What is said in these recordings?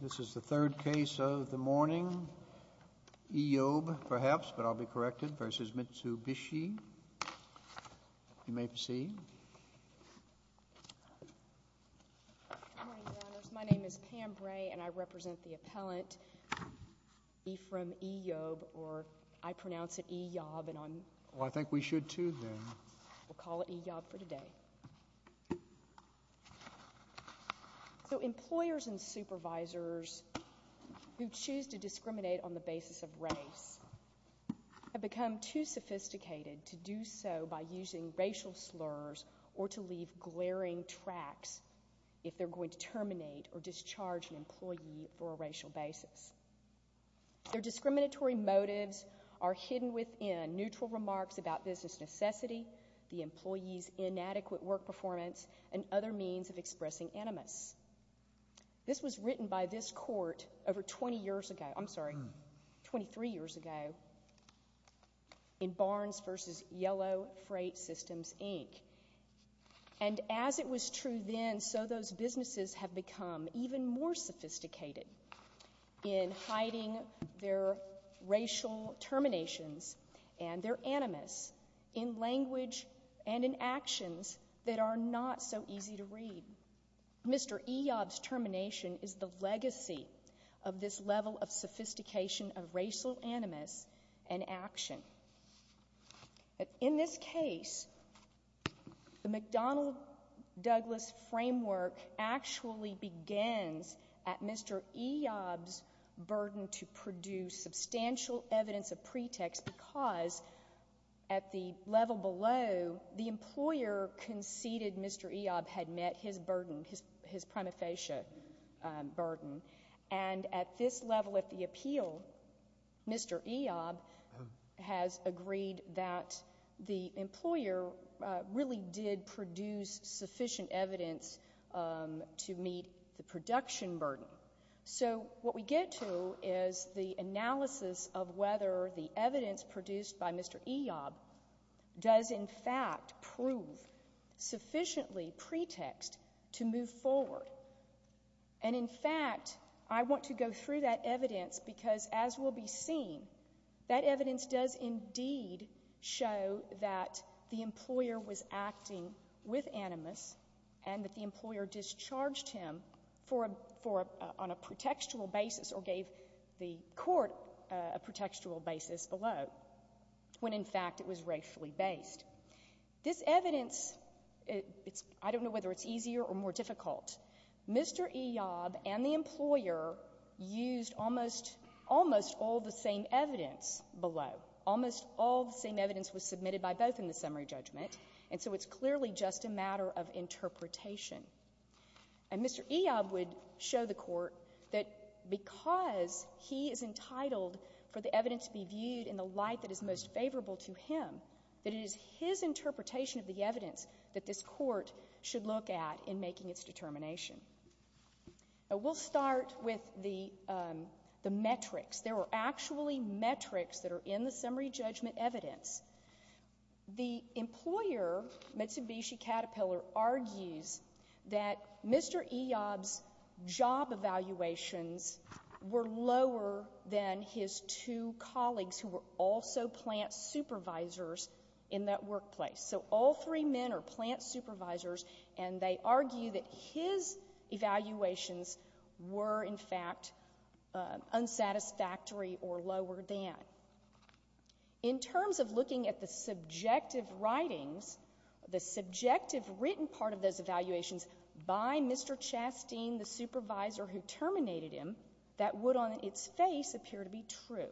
This is the third case of the morning. Eyob, perhaps, but I'll be corrected, v. Mitsubishi. You may proceed. Good morning, Your Honors. My name is Pam Bray, and I represent the appellant Ephrem Eyob, or I pronounce it E-yob, and I'm— Well, I think we should, too, then. We'll call it E-yob for today. So employers and supervisors who choose to discriminate on the basis of race have become too sophisticated to do so by using racial slurs or to leave glaring tracks if they're going to terminate or discharge an employee for a racial basis. Their discriminatory motives are hidden within neutral remarks about business necessity, the employee's inadequate work performance, and other means of expressing animus. This was written by this Court over 20 years ago—I'm sorry, 23 years ago—in Barnes v. Yellow Freight Systems, Inc., and as it was true then, so those businesses have become even more sophisticated in hiding their racial terminations and their animus in language and in actions that are not so easy to read. Mr. Eyob's termination is the legacy of this level of sophistication of racial animus and action. In this case, the McDonnell-Douglas framework actually begins at Mr. Eyob's burden to produce substantial evidence of pretext because at the level below, the employer conceded Mr. Eyob had met his burden, his prima facie burden, and at this level of the appeal, Mr. Eyob has agreed that the employer really did produce sufficient evidence to meet the production burden. So what we get to is the analysis of whether the evidence produced by Mr. Eyob does in fact prove sufficiently pretext to move forward, and in fact, I want to go through that evidence because as will be seen, that evidence does indeed show that the employer was acting with animus and that the employer discharged him on a pretextual basis or gave the court a pretextual basis below, when in fact it was racially based. This evidence, I don't know whether it's easier or more difficult, Mr. Eyob and the employer used almost all the same evidence below. Almost all the same evidence was submitted by both in the summary judgment, and so it's clearly just a matter of interpretation. And Mr. Eyob would show the court that because he is entitled for the evidence to be viewed in the light that is most favorable to him, that it is his interpretation of the evidence that this court should look at in making its determination. Now, we'll start with the metrics. There were actually metrics that are in the summary judgment evidence. The employer, Mitsubishi Caterpillar, argues that Mr. Eyob's job evaluations were lower than his two colleagues who were also plant supervisors in that workplace. So all three men are plant supervisors, and they argue that his evaluations were, in fact, unsatisfactory or lower than. In terms of looking at the subjective writings, the subjective written part of those evaluations by Mr. Chasteen, the supervisor who terminated him, that would on its face appear to be true.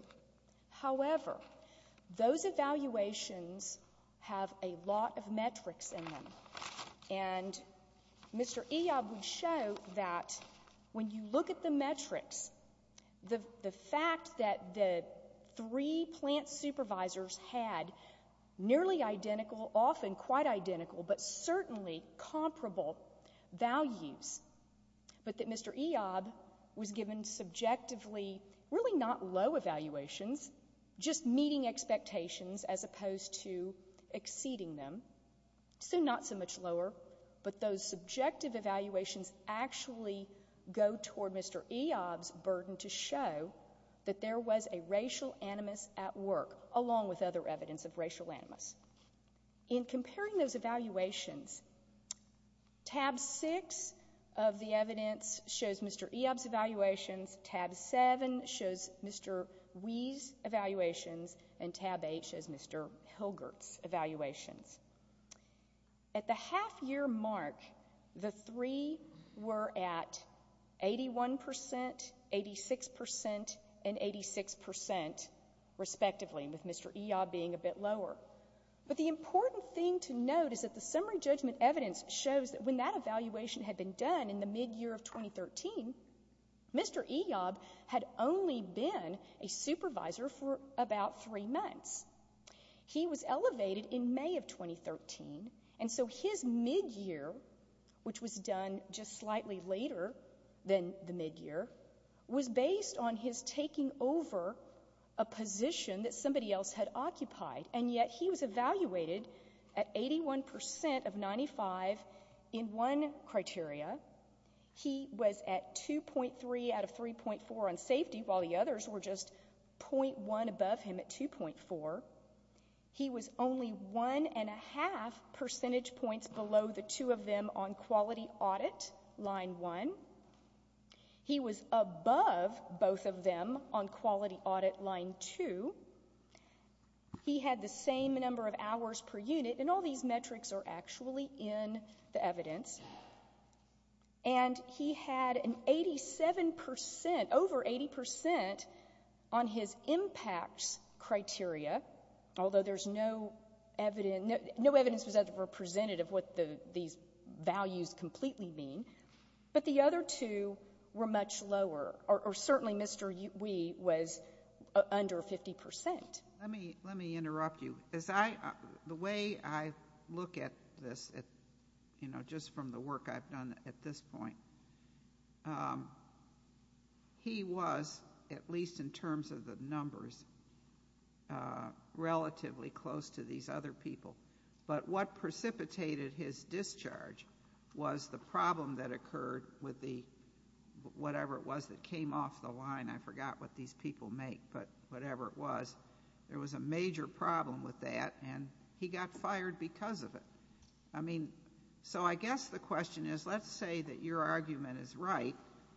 However, those evaluations have a lot of metrics in them, and Mr. Eyob would show that when you look at the metrics, the fact that the three plant supervisors had nearly identical, often quite identical, but certainly comparable values, but that Mr. Eyob was given subjectively really not low evaluations, just meeting expectations as opposed to exceeding them, so not so much lower, but those subjective evaluations actually go toward Mr. Eyob's burden to show that there was a racial animus at work, along with other evidence of racial animus. In comparing those evaluations, tab six of the evidence shows Mr. Eyob's evaluations, tab seven shows Mr. Wee's evaluations, and tab eight shows Mr. Hilgert's evaluations. At the half-year mark, the three were at 81 percent, 86 percent, and 86 percent, respectively, with Mr. Eyob being a bit lower. But the important thing to note is that the summary judgment evidence shows that when that evaluation had been done in the mid-year of 2013, Mr. Eyob had only been a supervisor for about three months. He was elevated in May of 2013, and so his mid-year, which was done just slightly later than the mid-year, was based on his taking over a position that somebody else had occupied, and yet he was evaluated at 81 percent of 95 in one criteria. He was at 2.3 out of 3.4 on safety, while the others were just .1 above him at 2.4. He was only one and a half percentage points below the two of them on quality audit, line one. He was above both of them on quality audit, line two. He had the same number of hours per unit, and all these metrics are actually in the evidence. And he had an 87 percent, over 80 percent, on his impacts criteria, although there's no evidence, no evidence was ever presented of what these values completely mean. But the other two were much lower, or certainly Mr. Wee was under 50 percent. Let me, let me interrupt you. As I, the way I look at this, you know, just from the work I've done at this point, he was, at least in terms of the numbers, relatively close to these other people. But what precipitated his discharge was the problem that occurred with the, whatever it was that came off the line. I forgot what these people make, but whatever it was, there was a major problem with that, and he got fired because of it. I mean, so I guess the question is, let's say that your argument is right,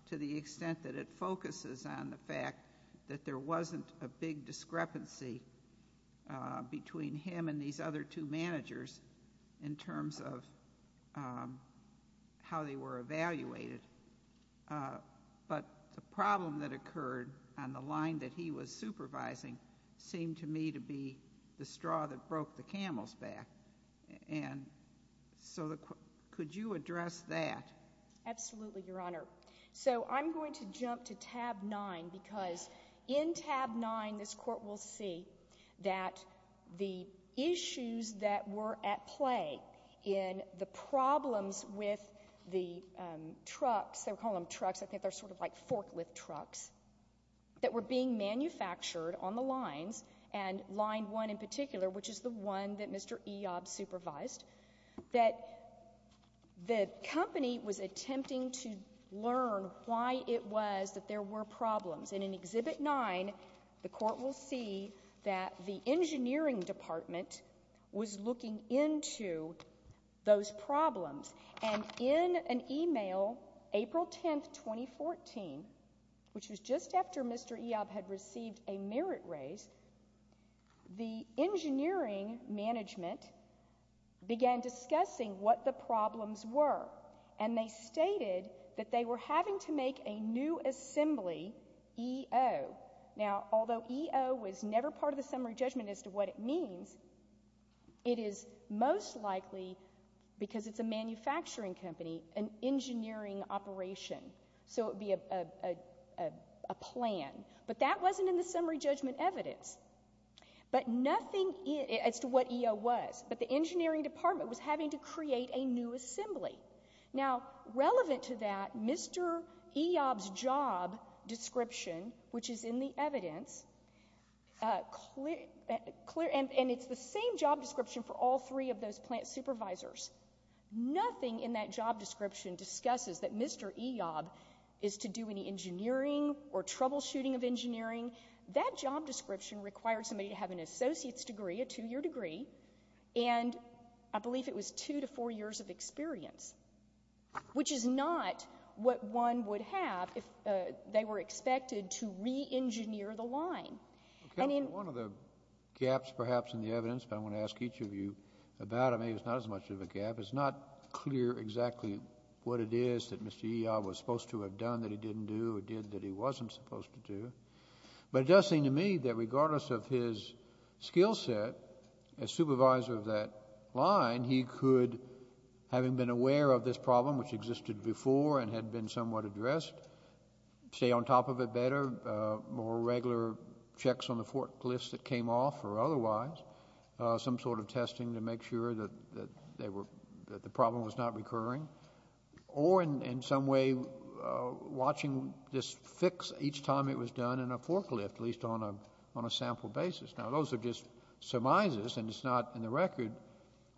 to the extent that it focuses on the fact that there wasn't a big discrepancy between him and these other two managers in terms of how they were evaluated. But the problem that occurred on the line that he was supervising seemed to me to be the straw that broke the camel's back. And so the, could you address that? Absolutely, Your Honor. So I'm going to jump to tab 9, because in tab 9, this Court will see that the issues that were at play in the problems with the trucks, they were calling them trucks, I think they're sort of like forklift trucks, that were being manufactured on the lines, and line 1 in particular, which is the one that Mr. Eob supervised, that the company was attempting to learn why it was that there were problems. And in Exhibit 9, the Court will see that the engineering department was looking into those problems. And in an email, April 10, 2014, which was just after Mr. Eob had received a merit raise, the engineering management began discussing what the problems were. And they stated that they were having to make a new assembly, E.O. Now, although E.O. was never part of the summary judgment as to what it means, it is most likely, because it's a manufacturing company, an engineering operation. So it would be a plan. But that wasn't in the summary judgment evidence. But nothing as to what E.O. was. But the engineering department was having to create a new assembly. Now, relevant to that, Mr. Eob's job description, which is in the evidence, and it's the same job description for all three of those plant supervisors, nothing in that job description discusses that Mr. Eob is to do any engineering or troubleshooting of engineering. That job description required somebody to have an associate's degree, a two-year degree, and I believe it was two to four years of experience, which is not what one would have if they were expected to re-engineer the line. And in— One of the gaps, perhaps, in the evidence, but I'm going to ask each of you about it. I mean, it's not as much of a gap. It's not clear exactly what it is that Mr. Eob was supposed to have done that he didn't do, or did that he wasn't supposed to do. But it does seem to me that regardless of his skill set as supervisor of that line, he could, having been aware of this problem, which existed before and had been somewhat addressed, stay on top of it better, more regular checks on the forklifts that came off or otherwise, some sort of testing to make sure that the problem was not recurring, or in some way watching this fix each time it was done in a forklift, at least on a sample basis. Now, those are just surmises, and it's not in the record,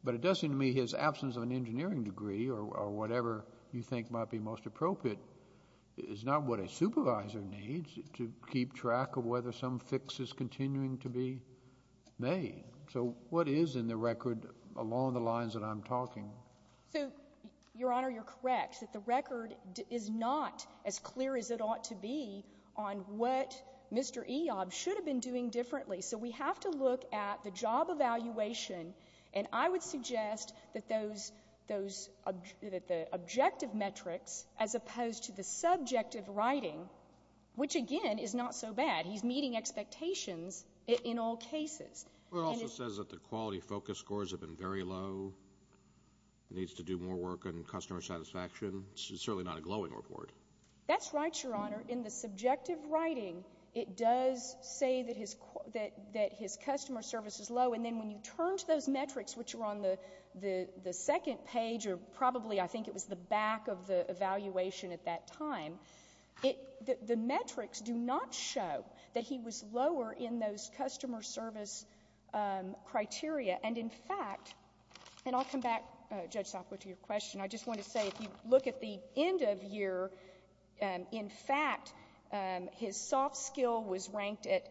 but it does seem to me his absence of an engineering degree or whatever you think might be most appropriate is not what a supervisor needs to keep track of whether some fix is continuing to be made. So what is in the record along the lines that I'm talking? So, Your Honor, you're correct that the record is not as clear as it ought to be on what Mr. Eob should have been doing differently. So we have to look at the job evaluation, and I would suggest that those, those, that the objective metrics as opposed to the subjective writing, which again is not so bad. He's meeting expectations in all cases. It also says that the quality focus scores have been very low. It needs to do more work on customer satisfaction. It's certainly not a glowing report. That's right, Your Honor. In the subjective writing, it does say that his, that his customer service is low, and then when you turn to those metrics, which are on the, the second page, or probably I think it was the back of the evaluation at that time, it, the metrics do not show that he was lower in those customer service criteria. And in fact, and I'll come back, Judge Sopwith, to your question. I just want to say if you look at the end of year, in fact, his soft skill was ranked at,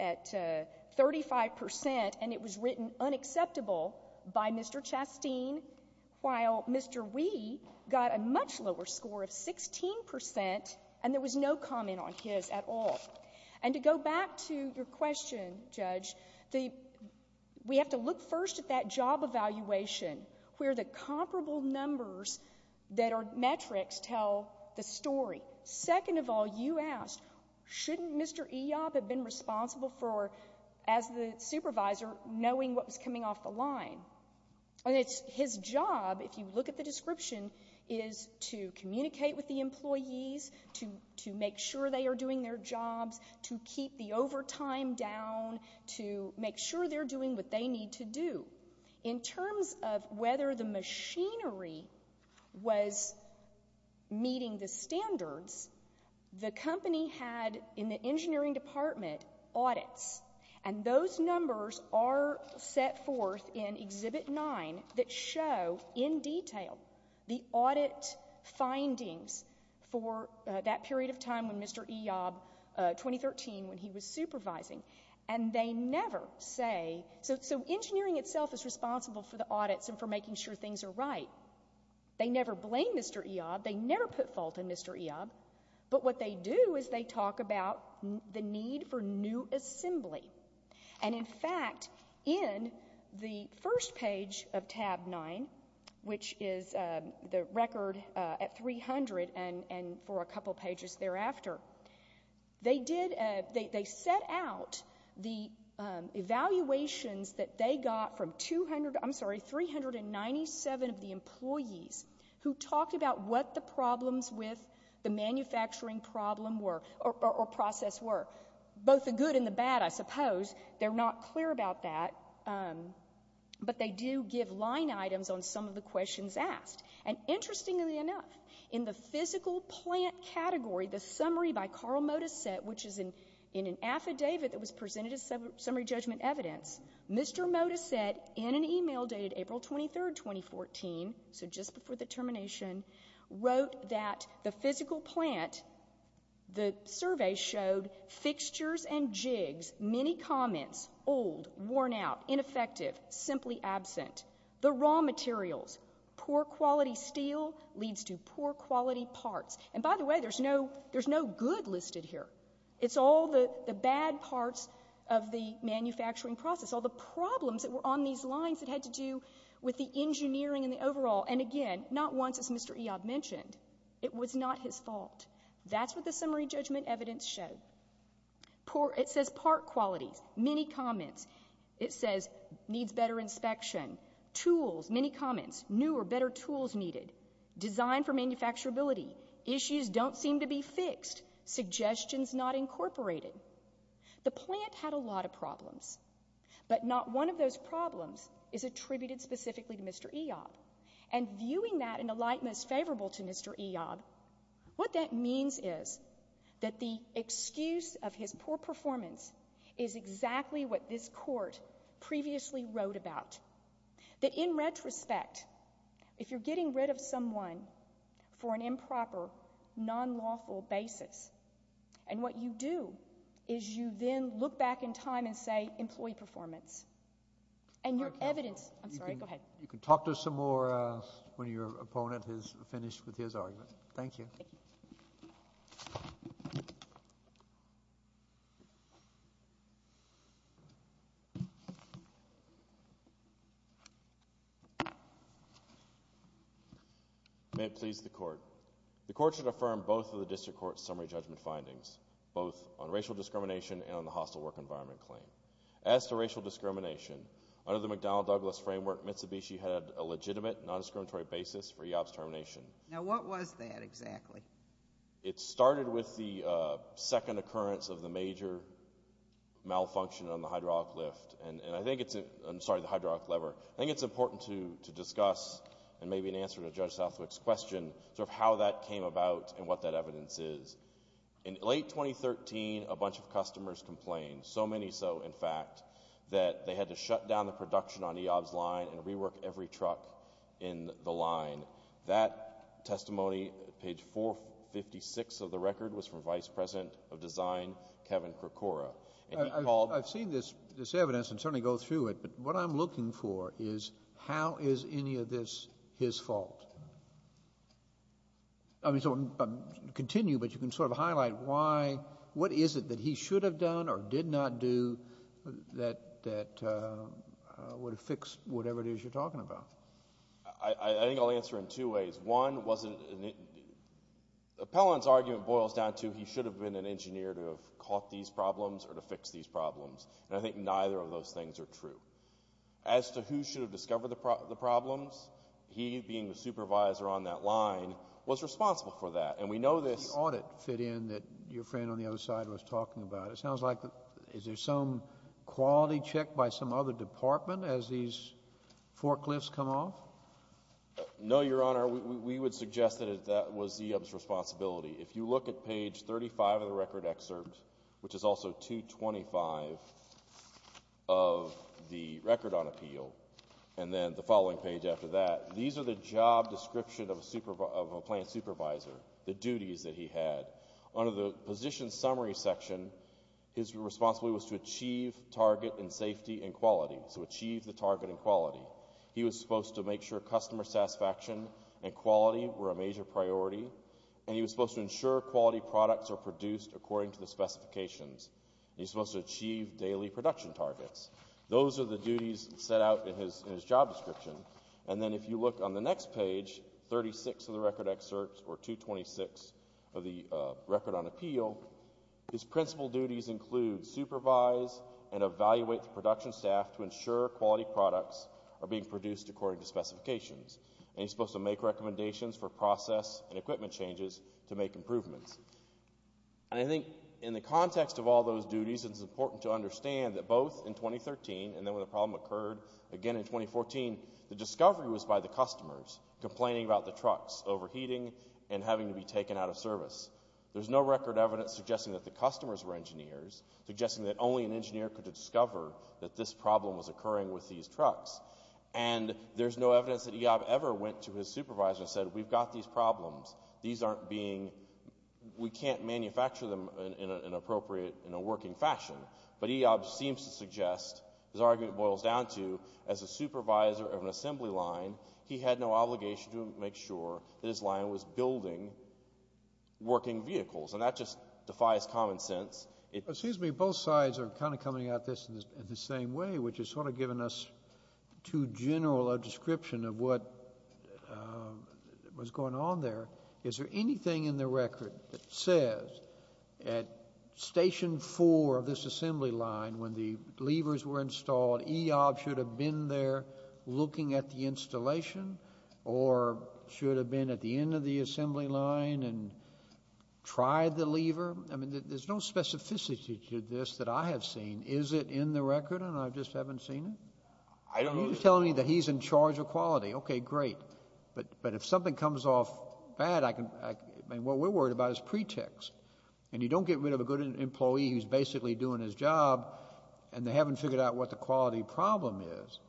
at 35 percent, and it was written unacceptable by Mr. Chasteen, while Mr. Wee got a much lower score of 16 percent, and there was no comment on his at all. And to go back to your question, Judge, the, we have to look first at that job evaluation, where the comparable numbers that are metrics tell the story. Second of all, you asked, shouldn't Mr. Eyob have been responsible for, as the supervisor, knowing what was coming off the line? And it's, his job, if you look at the description, is to communicate with the employees, to, to make sure they are doing their jobs, to keep the overtime down, to make sure they're doing what they need to do. In terms of whether the machinery was meeting the standards, the company had, in the engineering department, audits. And those numbers are set forth in Exhibit 9 that show, in detail, the audit findings for that period of time when Mr. Eyob, 2013, when he was supervising. And they never say, so, so engineering itself is responsible for the audits and for making sure things are right. They never blame Mr. Eyob. They never put fault in Mr. Eyob. But what they do is they talk about the need for new assembly. And in fact, in the first page of Tab 9, which is the record at 300, and, and for a couple pages thereafter, they did, they, they set out the evaluations that they got from 200, I'm sorry, 397 of the employees who talked about what the problems with the manufacturing problem were, or process were. Both the good and the bad, I suppose. They're not clear about that. But they do give line items on some of the questions asked. And interestingly enough, in the physical plant category, the summary by Carl Modisette, which is in, in an affidavit that was presented as summary judgment evidence, Mr. Modisette, in an email dated April 23, 2014, so just before the termination, wrote that the physical plant, the survey showed fixtures and jigs, many comments, old, worn out, ineffective, simply absent. The raw materials, poor quality steel leads to poor quality parts. And by the way, there's no, there's no good listed here. It's all the, the bad parts of the manufacturing process. All the problems that were on these lines that had to do with the engineering and the overall, and again, not once, as Mr. Eob mentioned, it was not his fault. That's what the summary judgment evidence showed. Poor, it says part qualities, many comments. It says needs better inspection. Tools, many comments, new or better tools needed. Design for manufacturability. Issues don't seem to be fixed. Suggestions not incorporated. The plant had a lot of problems. But not one of those problems is attributed specifically to Mr. Eob. And viewing that in a light most favorable to Mr. Eob, what that means is that the excuse of his poor performance is exactly what this court previously wrote about. That in retrospect, if you're getting rid of someone for an improper, non-lawful basis, and what you do is you then look back in time and say employee performance. And your evidence, I'm sorry, go ahead. You can talk to us some more when your opponent is finished with his argument. Thank you. May it please the court. The court should affirm both of the district court's summary judgment findings, both on racial discrimination and on the hostile work environment claim. As to racial discrimination, under the McDonnell-Douglas framework, Mitsubishi had a legitimate, non-discriminatory basis for Eob's termination. Now, what was that exactly? It started with the second occurrence of the major malfunction on the hydraulic lift. And I think it's, I'm sorry, the hydraulic lever. I think it's important to discuss and maybe an answer to Judge Southwick's question, sort of how that came about and what that evidence is. In late 2013, a bunch of customers complained, so many so, in fact, that they had to shut down the production on Eob's line and rework every truck in the line. That testimony, page 456 of the record, was from Vice President of Design, Kevin Krikora. I've seen this evidence and certainly go through it. But what I'm looking for is how is any of this his fault? I mean, so continue, but you can sort of highlight why, what is it that he should have done or did not do that would have fixed whatever it is you're talking about? I think I'll answer in two ways. One wasn't, Appellant's argument boils down to he should have been an engineer to have caught these problems or to fix these problems. And I think neither of those things are true. As to who should have discovered the problems, he, being the supervisor on that line, was responsible for that. And we know this— The audit fit in that your friend on the other side was talking about. It sounds like, is there some quality check by some other department as these forklifts come off? No, Your Honor, we would suggest that that was Eob's responsibility. If you look at page 35 of the record excerpt, which is also 225 of the record on appeal, and then the following page after that, these are the job description of a plant supervisor, the duties that he had. Under the position summary section, his responsibility was to achieve target and safety and quality. So achieve the target and quality. He was supposed to make sure customer satisfaction and quality were a major priority. And he was supposed to ensure quality products are produced according to the specifications. He was supposed to achieve daily production targets. Those are the duties set out in his job description. And then if you look on the next page, 36 of the record excerpts, or 226 of the record on appeal, his principal duties include supervise and evaluate the production staff to ensure quality products are being produced according to specifications. And he's supposed to make recommendations for process and equipment changes to make improvements. And I think in the context of all those duties, it's important to understand that both in 2013, and then when the problem occurred again in 2014, the discovery was by the customers complaining about the trucks overheating and having to be taken out of service. There's no record evidence suggesting that the customers were engineers, suggesting that only an engineer could discover that this problem was occurring with these trucks. And there's no evidence that Iyab ever went to his supervisor and said, we've got these problems. These aren't being, we can't manufacture them in an appropriate, in a working fashion. But Iyab seems to suggest, his argument boils down to, as a supervisor of an assembly line, he had no obligation to make sure that his line was building working vehicles. And that just defies common sense. Excuse me, both sides are kind of coming at this in the same way, which has sort of given us too general a description of what was going on there. Is there anything in the record that says at station four of this assembly line, when the levers were installed, Iyab should have been there looking at the installation? Or should have been at the end of the assembly line and tried the lever? I mean, there's no specificity to this that I have seen. Is it in the record? And I just haven't seen it? I don't know. You're telling me that he's in charge of quality. Okay, great. But if something comes off bad, I can, I mean, what we're worried about is pretext. And you don't get rid of a good employee who's basically doing his job, and they haven't figured out what the quality problem is.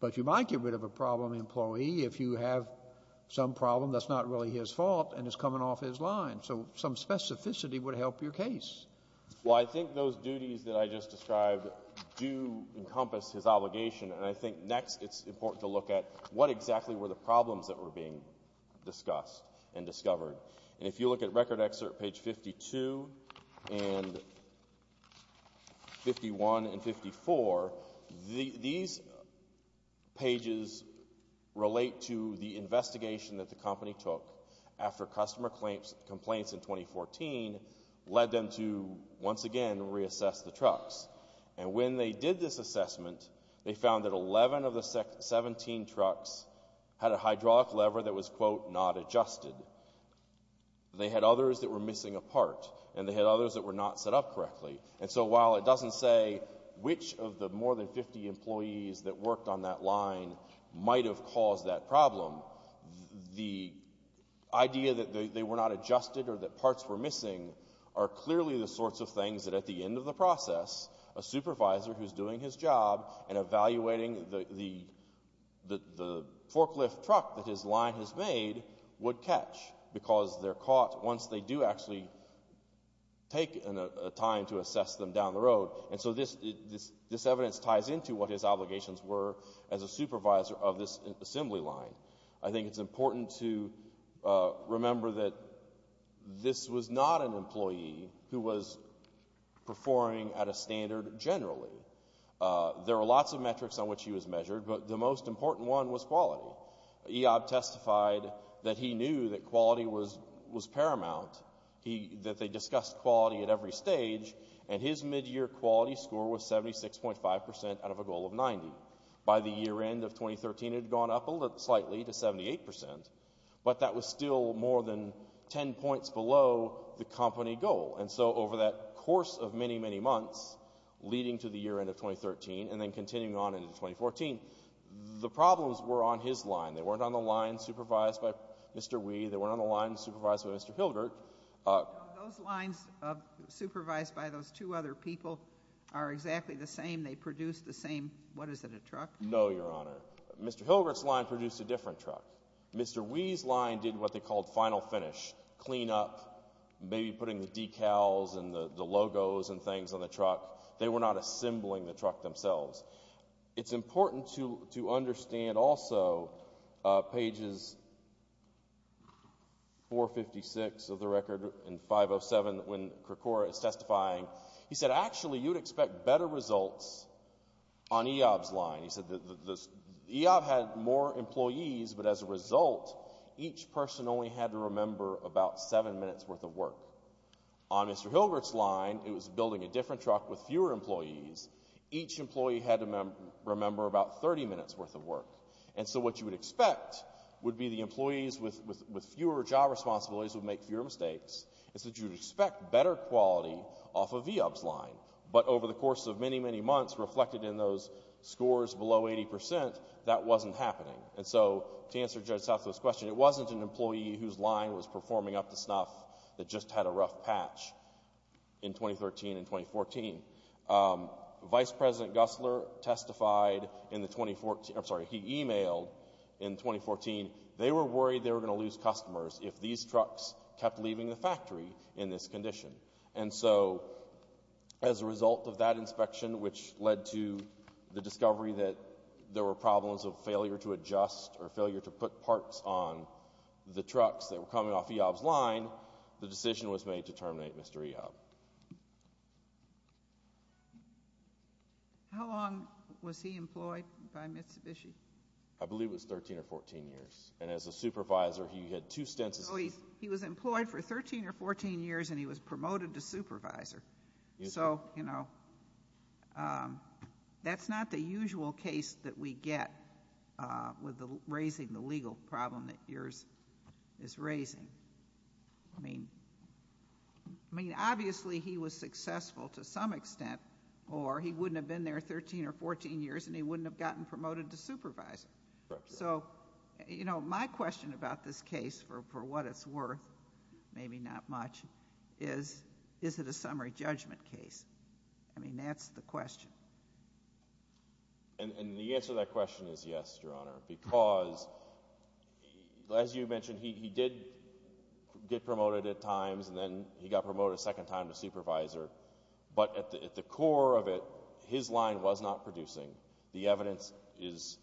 But you might get rid of a problem employee if you have some problem that's not really his fault and it's coming off his line. So some specificity would help your case. Well, I think those duties that I just described do encompass his obligation. And I think next it's important to look at what exactly were the problems that were being discussed and discovered. And if you look at record excerpt page 52 and 51 and 54, these pages relate to the investigation that the company took after customer complaints in 2014 led them to, once again, reassess the trucks. And when they did this assessment, they found that 11 of the 17 trucks had a hydraulic lever that was, quote, not adjusted. They had others that were missing a part. And they had others that were not set up correctly. And so while it doesn't say which of the more than 50 employees that worked on that line might have caused that problem, the idea that they were not adjusted or that parts were missing are clearly the sorts of things that at the end of the process, a supervisor who's doing his job and evaluating the forklift truck that his line has made would catch because they're caught once they do actually take a time to assess them down the road. And so this evidence ties into what his obligations were as a supervisor of this assembly line. I think it's important to remember that this was not an employee who was performing at a standard generally. There are lots of metrics on which he was measured, but the most important one was quality. Eob testified that he knew that quality was paramount, that they discussed quality at every stage, and his midyear quality score was 76.5% out of a goal of 90. By the year end of 2013, it had gone up slightly to 78%, but that was still more than 10 points below the company goal. And so over that course of many, many months, leading to the year end of 2013 and then continuing on into 2014, the problems were on his line. They weren't on the line supervised by Mr. Wee. They weren't on the line supervised by Mr. Hilgert. Those lines supervised by those two other people are exactly the same. They produce the same, what is it, a truck? No, Your Honor. Mr. Hilgert's line produced a different truck. Mr. Wee's line did what they called final finish, clean up, maybe putting the decals and the logos and things on the truck. They were not assembling the truck themselves. It's important to understand also pages 456 of the record and 507 when Krikora is testifying. He said, actually, you'd expect better results on Eob's line. He said Eob had more employees, but as a result, each person only had to remember about seven minutes worth of work. On Mr. Hilgert's line, it was building a different truck with fewer employees. Each employee had to remember about 30 minutes worth of work. And so what you would expect would be the employees with fewer job responsibilities would make fewer mistakes. It's that you'd expect better quality off of Eob's line, but over the course of many, many months reflected in those scores below 80 percent, that wasn't happening. And so to answer Judge Southwell's question, it wasn't an employee whose line was performing up to snuff that just had a rough patch in 2013 and 2014. Vice President Gussler testified in the 2014, I'm sorry, he emailed in 2014. They were worried they were going to lose customers if these trucks kept leaving the factory in this condition. And so as a result of that inspection, which led to the discovery that there were problems of failure to adjust or failure to put parts on the trucks that were coming off Eob's line, the decision was made to terminate Mr. Eob. How long was he employed by Mitsubishi? I believe it was 13 or 14 years. And as a supervisor, he had two stints. So he was employed for 13 or 14 years and he was promoted to supervisor. So, you know, that's not the usual case that we get with raising the legal problem that yours is raising. I mean, obviously he was successful to some extent, or he wouldn't have been there 13 or 14 years and he wouldn't have gotten promoted to supervisor. So, you know, my question about this case for what it's worth, maybe not much, is, is it a summary judgment case? I mean, that's the question. And the answer to that question is yes, Your Honor, because as you mentioned, he did get promoted at times and then he got promoted a second time to supervisor. But at the core of it, his line was not producing. The evidence is...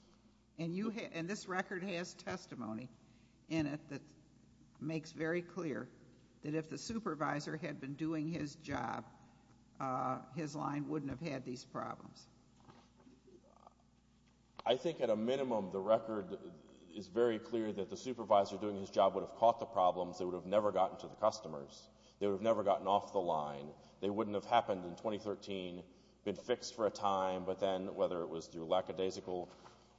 And this record has testimony in it that makes very clear that if the supervisor had been doing his job, his line wouldn't have had these problems. I think at a minimum, the record is very clear that the supervisor doing his job would have caught the problems. They would have never gotten to the customers. They would have never gotten off the line. They wouldn't have happened in 2013, been fixed for a time, but then whether it was through lackadaisical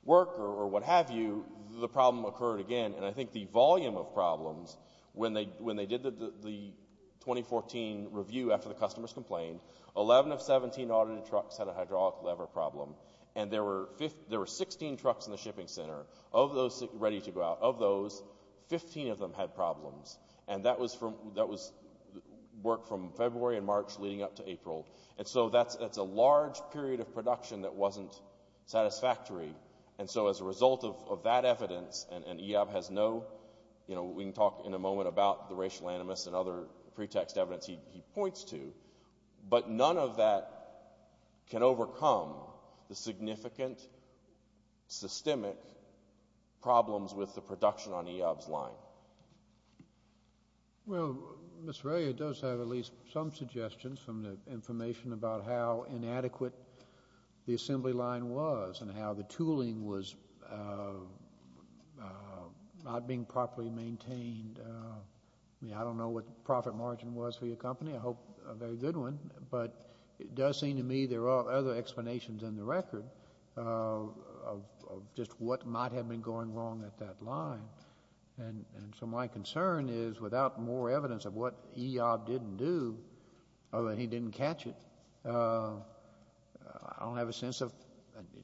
work or what have you, the problem occurred again. And I think the volume of problems, when they did the 2014 review after the customers complained, 11 of 17 audited trucks had a hydraulic lever problem and there were 16 trucks in the shipping center. Of those ready to go out, of those, 15 of them had problems. And that was work from February and March leading up to April. And so that's a large period of production that wasn't satisfactory. And so as a result of that evidence, and Eob has no... You know, we can talk in a moment about the racial animus and other pretext evidence he points to, but none of that can overcome the significant, systemic problems with the production on Eob's line. Well, Mr. Ray, it does have at least some suggestions from the information about how inadequate the assembly line was and how the tooling was not being properly maintained. I don't know what the profit margin was for your company. I hope a very good one. But it does seem to me there are other explanations in the record of just what might have been going wrong at that line. And so my concern is, without more evidence of what Eob didn't do, or that he didn't catch it, I don't have a sense of...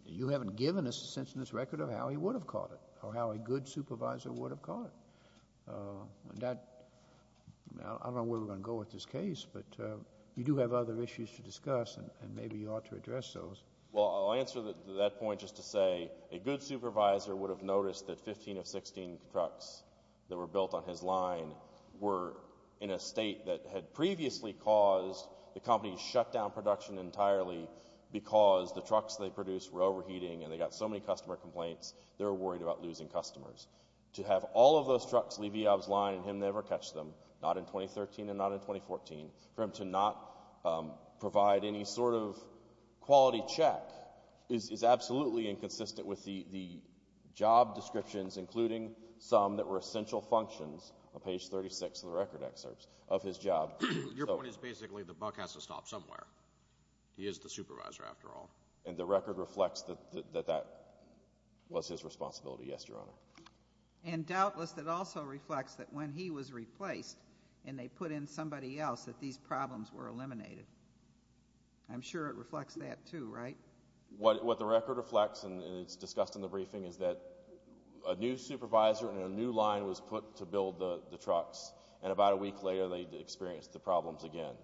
You haven't given us a sense in this record of how he would have caught it, or how a good supervisor would have caught it. And that... I don't know where we're going to go with this case, but you do have other issues to discuss, and maybe you ought to address those. Well, I'll answer that point just to say, a good supervisor would have noticed that 15 of 16 trucks that were built on his line were in a state that had previously caused the company to shut down production entirely because the trucks they produced were overheating and they got so many customer complaints, they were worried about losing customers. To have all of those trucks leave Eob's line and him never catch them, not in 2013 and not in 2014, for him to not provide any sort of quality check is absolutely inconsistent with the job descriptions, including some that were essential functions, on page 36 of the record excerpts of his job. Your point is basically the buck has to stop somewhere. He is the supervisor after all. And the record reflects that that was his responsibility. Yes, Your Honor. And doubtless that also reflects that when he was replaced and they put in somebody else, that these problems were eliminated. I'm sure it reflects that too, right? What the record reflects, and it's discussed in the briefing, is that a new supervisor in a new line was put to build the trucks. And about a week later, they experienced the problems again.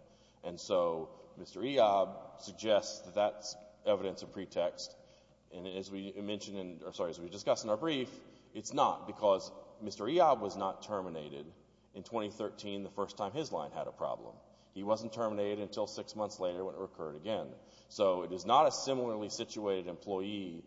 And so Mr. Eob suggests that that's evidence of pretext. And as we mentioned, or sorry, as we discussed in our brief, it's not because Mr. Eob was not terminated in 2013, the first time his line had a problem. He wasn't terminated until six months later when it occurred again. So it is not a similarly situated employee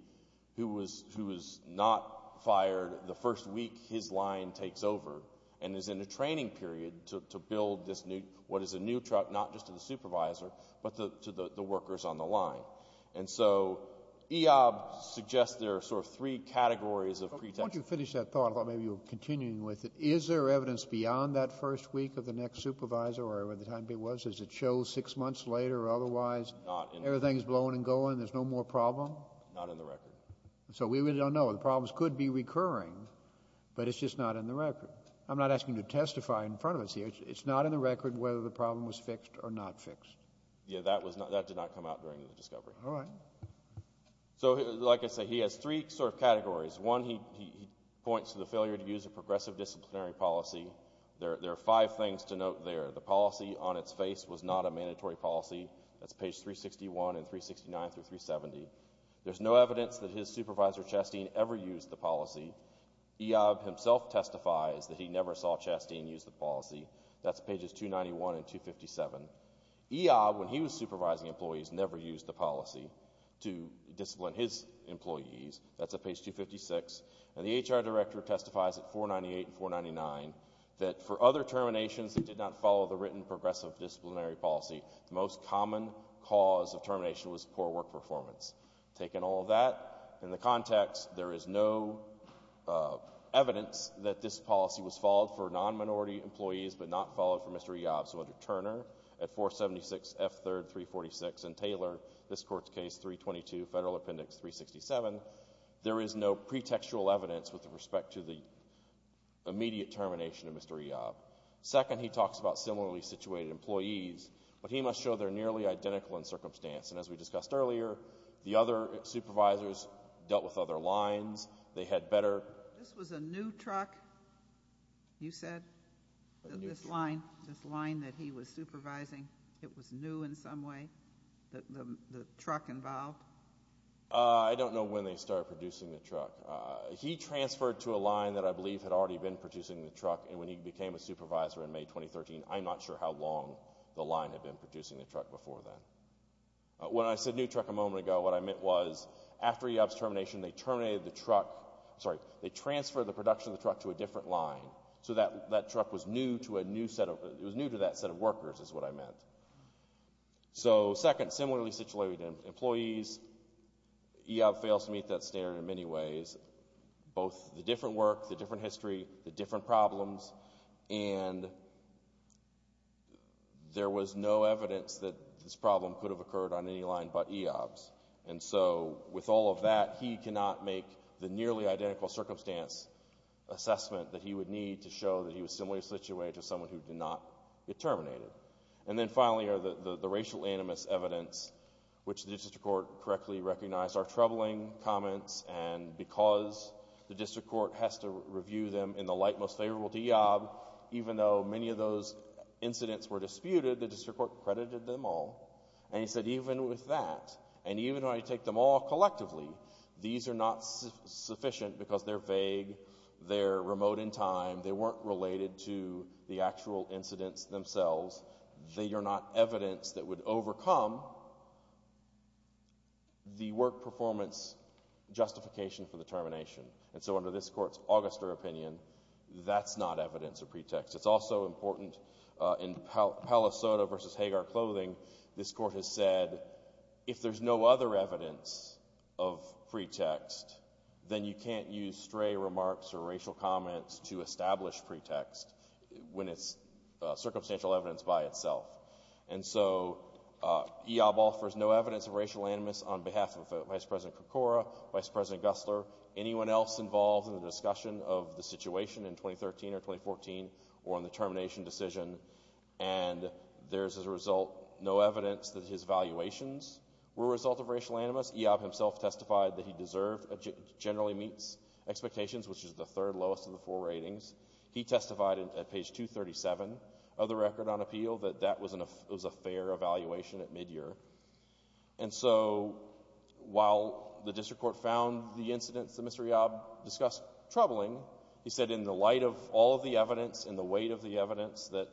who was not fired the first week his line takes over and is in a training period to build this new, what is a new truck, not just to the supervisor, but to the workers on the line. And so Eob suggests there are sort of three categories of pretext. Once you finish that thought, I thought maybe you were continuing with it. Is there evidence beyond that first week of the next supervisor or whatever the time it was? Does it show six months later, or otherwise everything's blowing and going, there's no more problem? Not in the record. So we really don't know. The problems could be recurring, but it's just not in the record. I'm not asking you to testify in front of us here. It's not in the record whether the problem was fixed or not fixed. Yeah, that did not come out during the discovery. All right. So like I say, he has three sort of categories. One, he points to the failure to use a progressive disciplinary policy. There are five things to note there. The policy on its face was not a mandatory policy. That's page 361 and 369 through 370. There's no evidence that his supervisor, Chastain, ever used the policy. Eob himself testifies that he never saw Chastain use the policy. That's pages 291 and 257. Eob, when he was supervising employees, never used the policy to discipline his employees. That's at page 256. And the HR director testifies at 498 and 499 that for other terminations that did not follow the written progressive disciplinary policy, the most common cause of termination was poor work performance. Taking all of that in the context, there is no evidence that this policy was followed for non-minority employees but not followed for Mr. Eob. So under Turner at 476 F. 3rd, 346, and Taylor, this court's case, 322 Federal Appendix 367, there is no pretextual evidence with respect to the immediate termination of Mr. Eob. Second, he talks about similarly situated employees, but he must show they're nearly identical in circumstance. And as we discussed earlier, the other supervisors dealt with other lines. They had better... This was a new truck, you said? A new truck. This line, this line that he was supervising, it was new in some way, the truck involved? I don't know when they started producing the truck. He transferred to a line that I believe had already been producing the truck. And when he became a supervisor in May 2013, I'm not sure how long the line had been producing the truck before then. When I said new truck a moment ago, what I meant was after Eob's termination, they terminated the truck... Sorry, they transferred the production of the truck to a different line. So that truck was new to a new set of... It was new to that set of workers is what I meant. So second, similarly situated employees, Eob fails to meet that standard in many ways. Both the different work, the different history, the different problems, and there was no evidence that this problem could have occurred on any line but Eob's. And so with all of that, he cannot make the nearly identical circumstance assessment that he would need to show that he was similarly situated to someone who did not get terminated. And then finally are the racial animus evidence, which the district court correctly recognized are troubling comments. And because the district court has to review them in the light most favorable to Eob, even though many of those incidents were disputed, the district court credited them all. And he said, even with that, and even though I take them all collectively, these are not sufficient because they're vague, they're remote in time, they weren't related to the actual incidents themselves. They are not evidence that would overcome the work performance justification for the termination. And so under this court's Auguster opinion, that's not evidence of pretext. It's also important in Palo Soto versus Hagar Clothing, this court has said, if there's no other evidence of pretext, then you can't use stray remarks or racial comments to establish pretext when it's circumstantial evidence by itself. And so Eob offers no evidence of racial animus on behalf of Vice President Krikora, Vice President Gustler, anyone else involved in the discussion of the situation in 2013 or 2014 or in the termination decision. And there's as a result, no evidence that his valuations were a result of racial animus. Eob himself testified that he deserved generally meets expectations, which is the third lowest of the four ratings. He testified at page 237 of the record on appeal that that was a fair evaluation at midyear. And so while the district court found the incidents that Mr. Eob discussed troubling, he said in the light of all of the evidence and the weight of the evidence that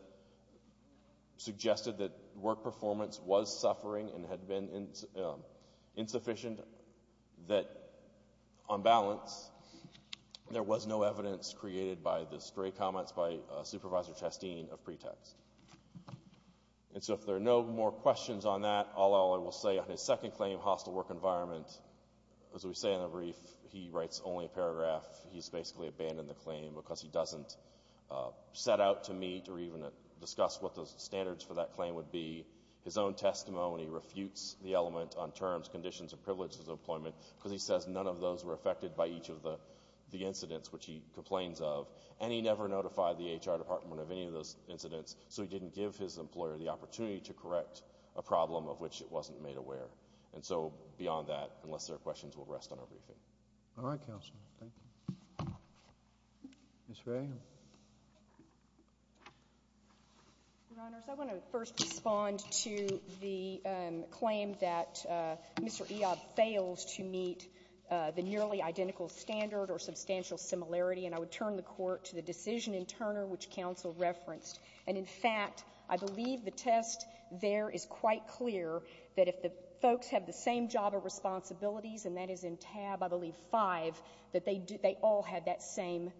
suggested that work performance was suffering and had been insufficient, that on balance, there was no evidence created by the stray comments by Supervisor Chastain of pretext. And so if there are no more questions on that, I will say on his second claim, hostile work environment, as we say in the brief, he writes only a paragraph. He's basically abandoned the claim because he doesn't set out to meet or even discuss what the standards for that claim would be. His own testimony refutes the element on terms, conditions, and privileges of employment because he says none of those were affected by each of the incidents, which he complains of. And he never notified the HR department of any of those incidents, so he didn't give his employer the opportunity to correct a problem of which it wasn't made aware. And so beyond that, unless there are questions, we'll rest on our briefing. All right, counsel. Thank you. Ms. Fray? Your Honors, I want to first respond to the claim that Mr. Eob failed to meet the nearly identical standard or substantial similarity, and I would turn the court to the decision in Turner, which counsel referenced. And in fact, I believe the test there is quite clear that if the folks have the same job or responsibilities, and that is in tab, I believe, 5, that they all had that same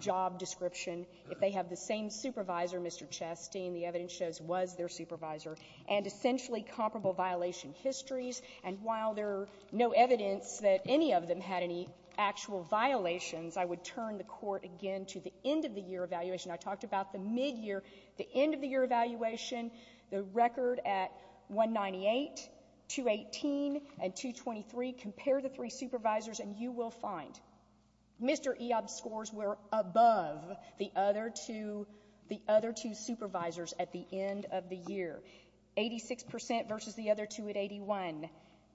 job description. If they have the same supervisor, Mr. Chastain, the evidence shows was their supervisor. And essentially comparable violation histories, and while there are no evidence that any of them had any actual violations, I would turn the court again to the end-of-the-year evaluation. I talked about the mid-year, the end-of-the-year evaluation, the record at 198, 218, and 223. Compare the three supervisors and you will find Mr. Eob's scores were above the other two supervisors at the end of the year. 86% versus the other two at 81.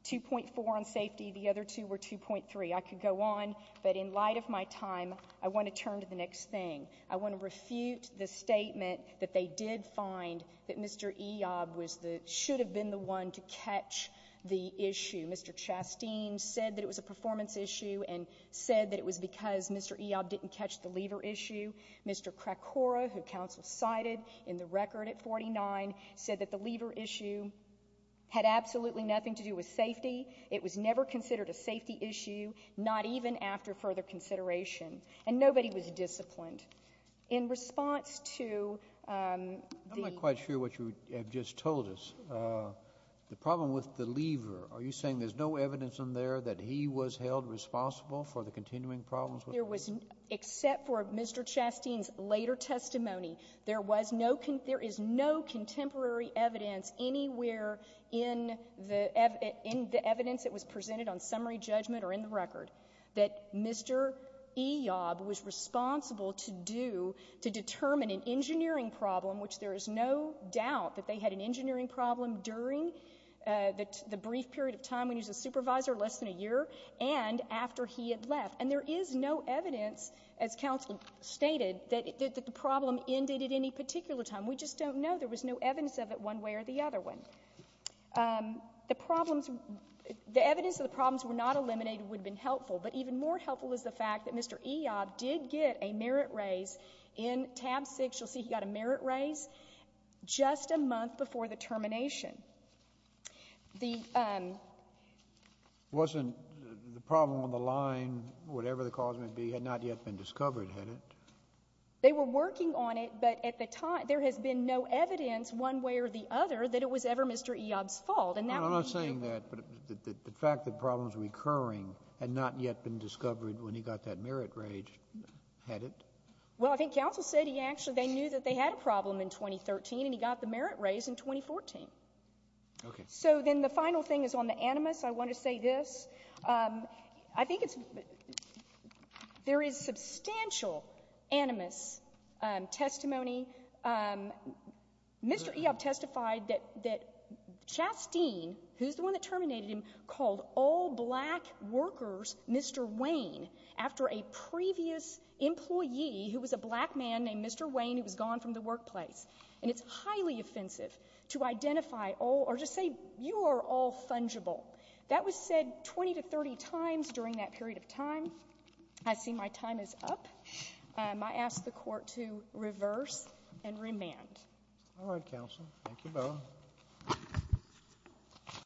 2.4 on safety. The other two were 2.3. I could go on, but in light of my time, I want to turn to the next thing. I want to refute the statement that they did find that Mr. Eob should have been the one to catch the issue. Mr. Chastain said that it was a performance issue and said that it was because Mr. Eob didn't catch the lever issue. Mr. Krakora, who counsel cited in the record at 49, said that the lever issue had absolutely nothing to do with safety. It was never considered a safety issue, not even after further consideration. And nobody was disciplined. In response to the- I'm not quite sure what you have just told us. The problem with the lever, are you saying there's no evidence in there that he was held responsible for the continuing problems? There was, except for Mr. Chastain's later testimony, there is no contemporary evidence anywhere in the evidence that was presented on summary judgment or in the record that Mr. Eob was responsible to do to determine an engineering problem, which there is no doubt that they had an engineering problem during the brief period of time when he was a supervisor, less than a year, and after he had left. And there is no evidence, as counsel stated, that the problem ended at any particular time. We just don't know. There was no evidence of it one way or the other way. The problems, the evidence of the problems were not eliminated would have been helpful, but even more helpful is the fact that Mr. Eob did get a merit raise in tab six. You'll see he got a merit raise just a month before the termination. Wasn't the problem on the line, whatever the cause might be, had not yet been discovered, had it? They were working on it, but at the time there has been no evidence one way or the other that it was ever Mr. Eob's fault. And that would be true. I'm not saying that, but the fact that problems were occurring had not yet been discovered when he got that merit raise, had it? Well, I think counsel said he actually, they knew that they had a problem in 2013, and he got the merit raise in 2014. Okay. So then the final thing is on the animus. I want to say this. I think it's, there is substantial animus testimony. Mr. Eob testified that Chasteen, who's the one that terminated him, called all black workers, Mr. Wayne, after a previous employee who was a black man named Mr. Wayne who was gone from the workplace. And it's highly offensive to identify all, or just say you are all fungible. That was said 20 to 30 times during that period of time. I see my time is up. I ask the court to reverse and remand. All right, counsel. Thank you both.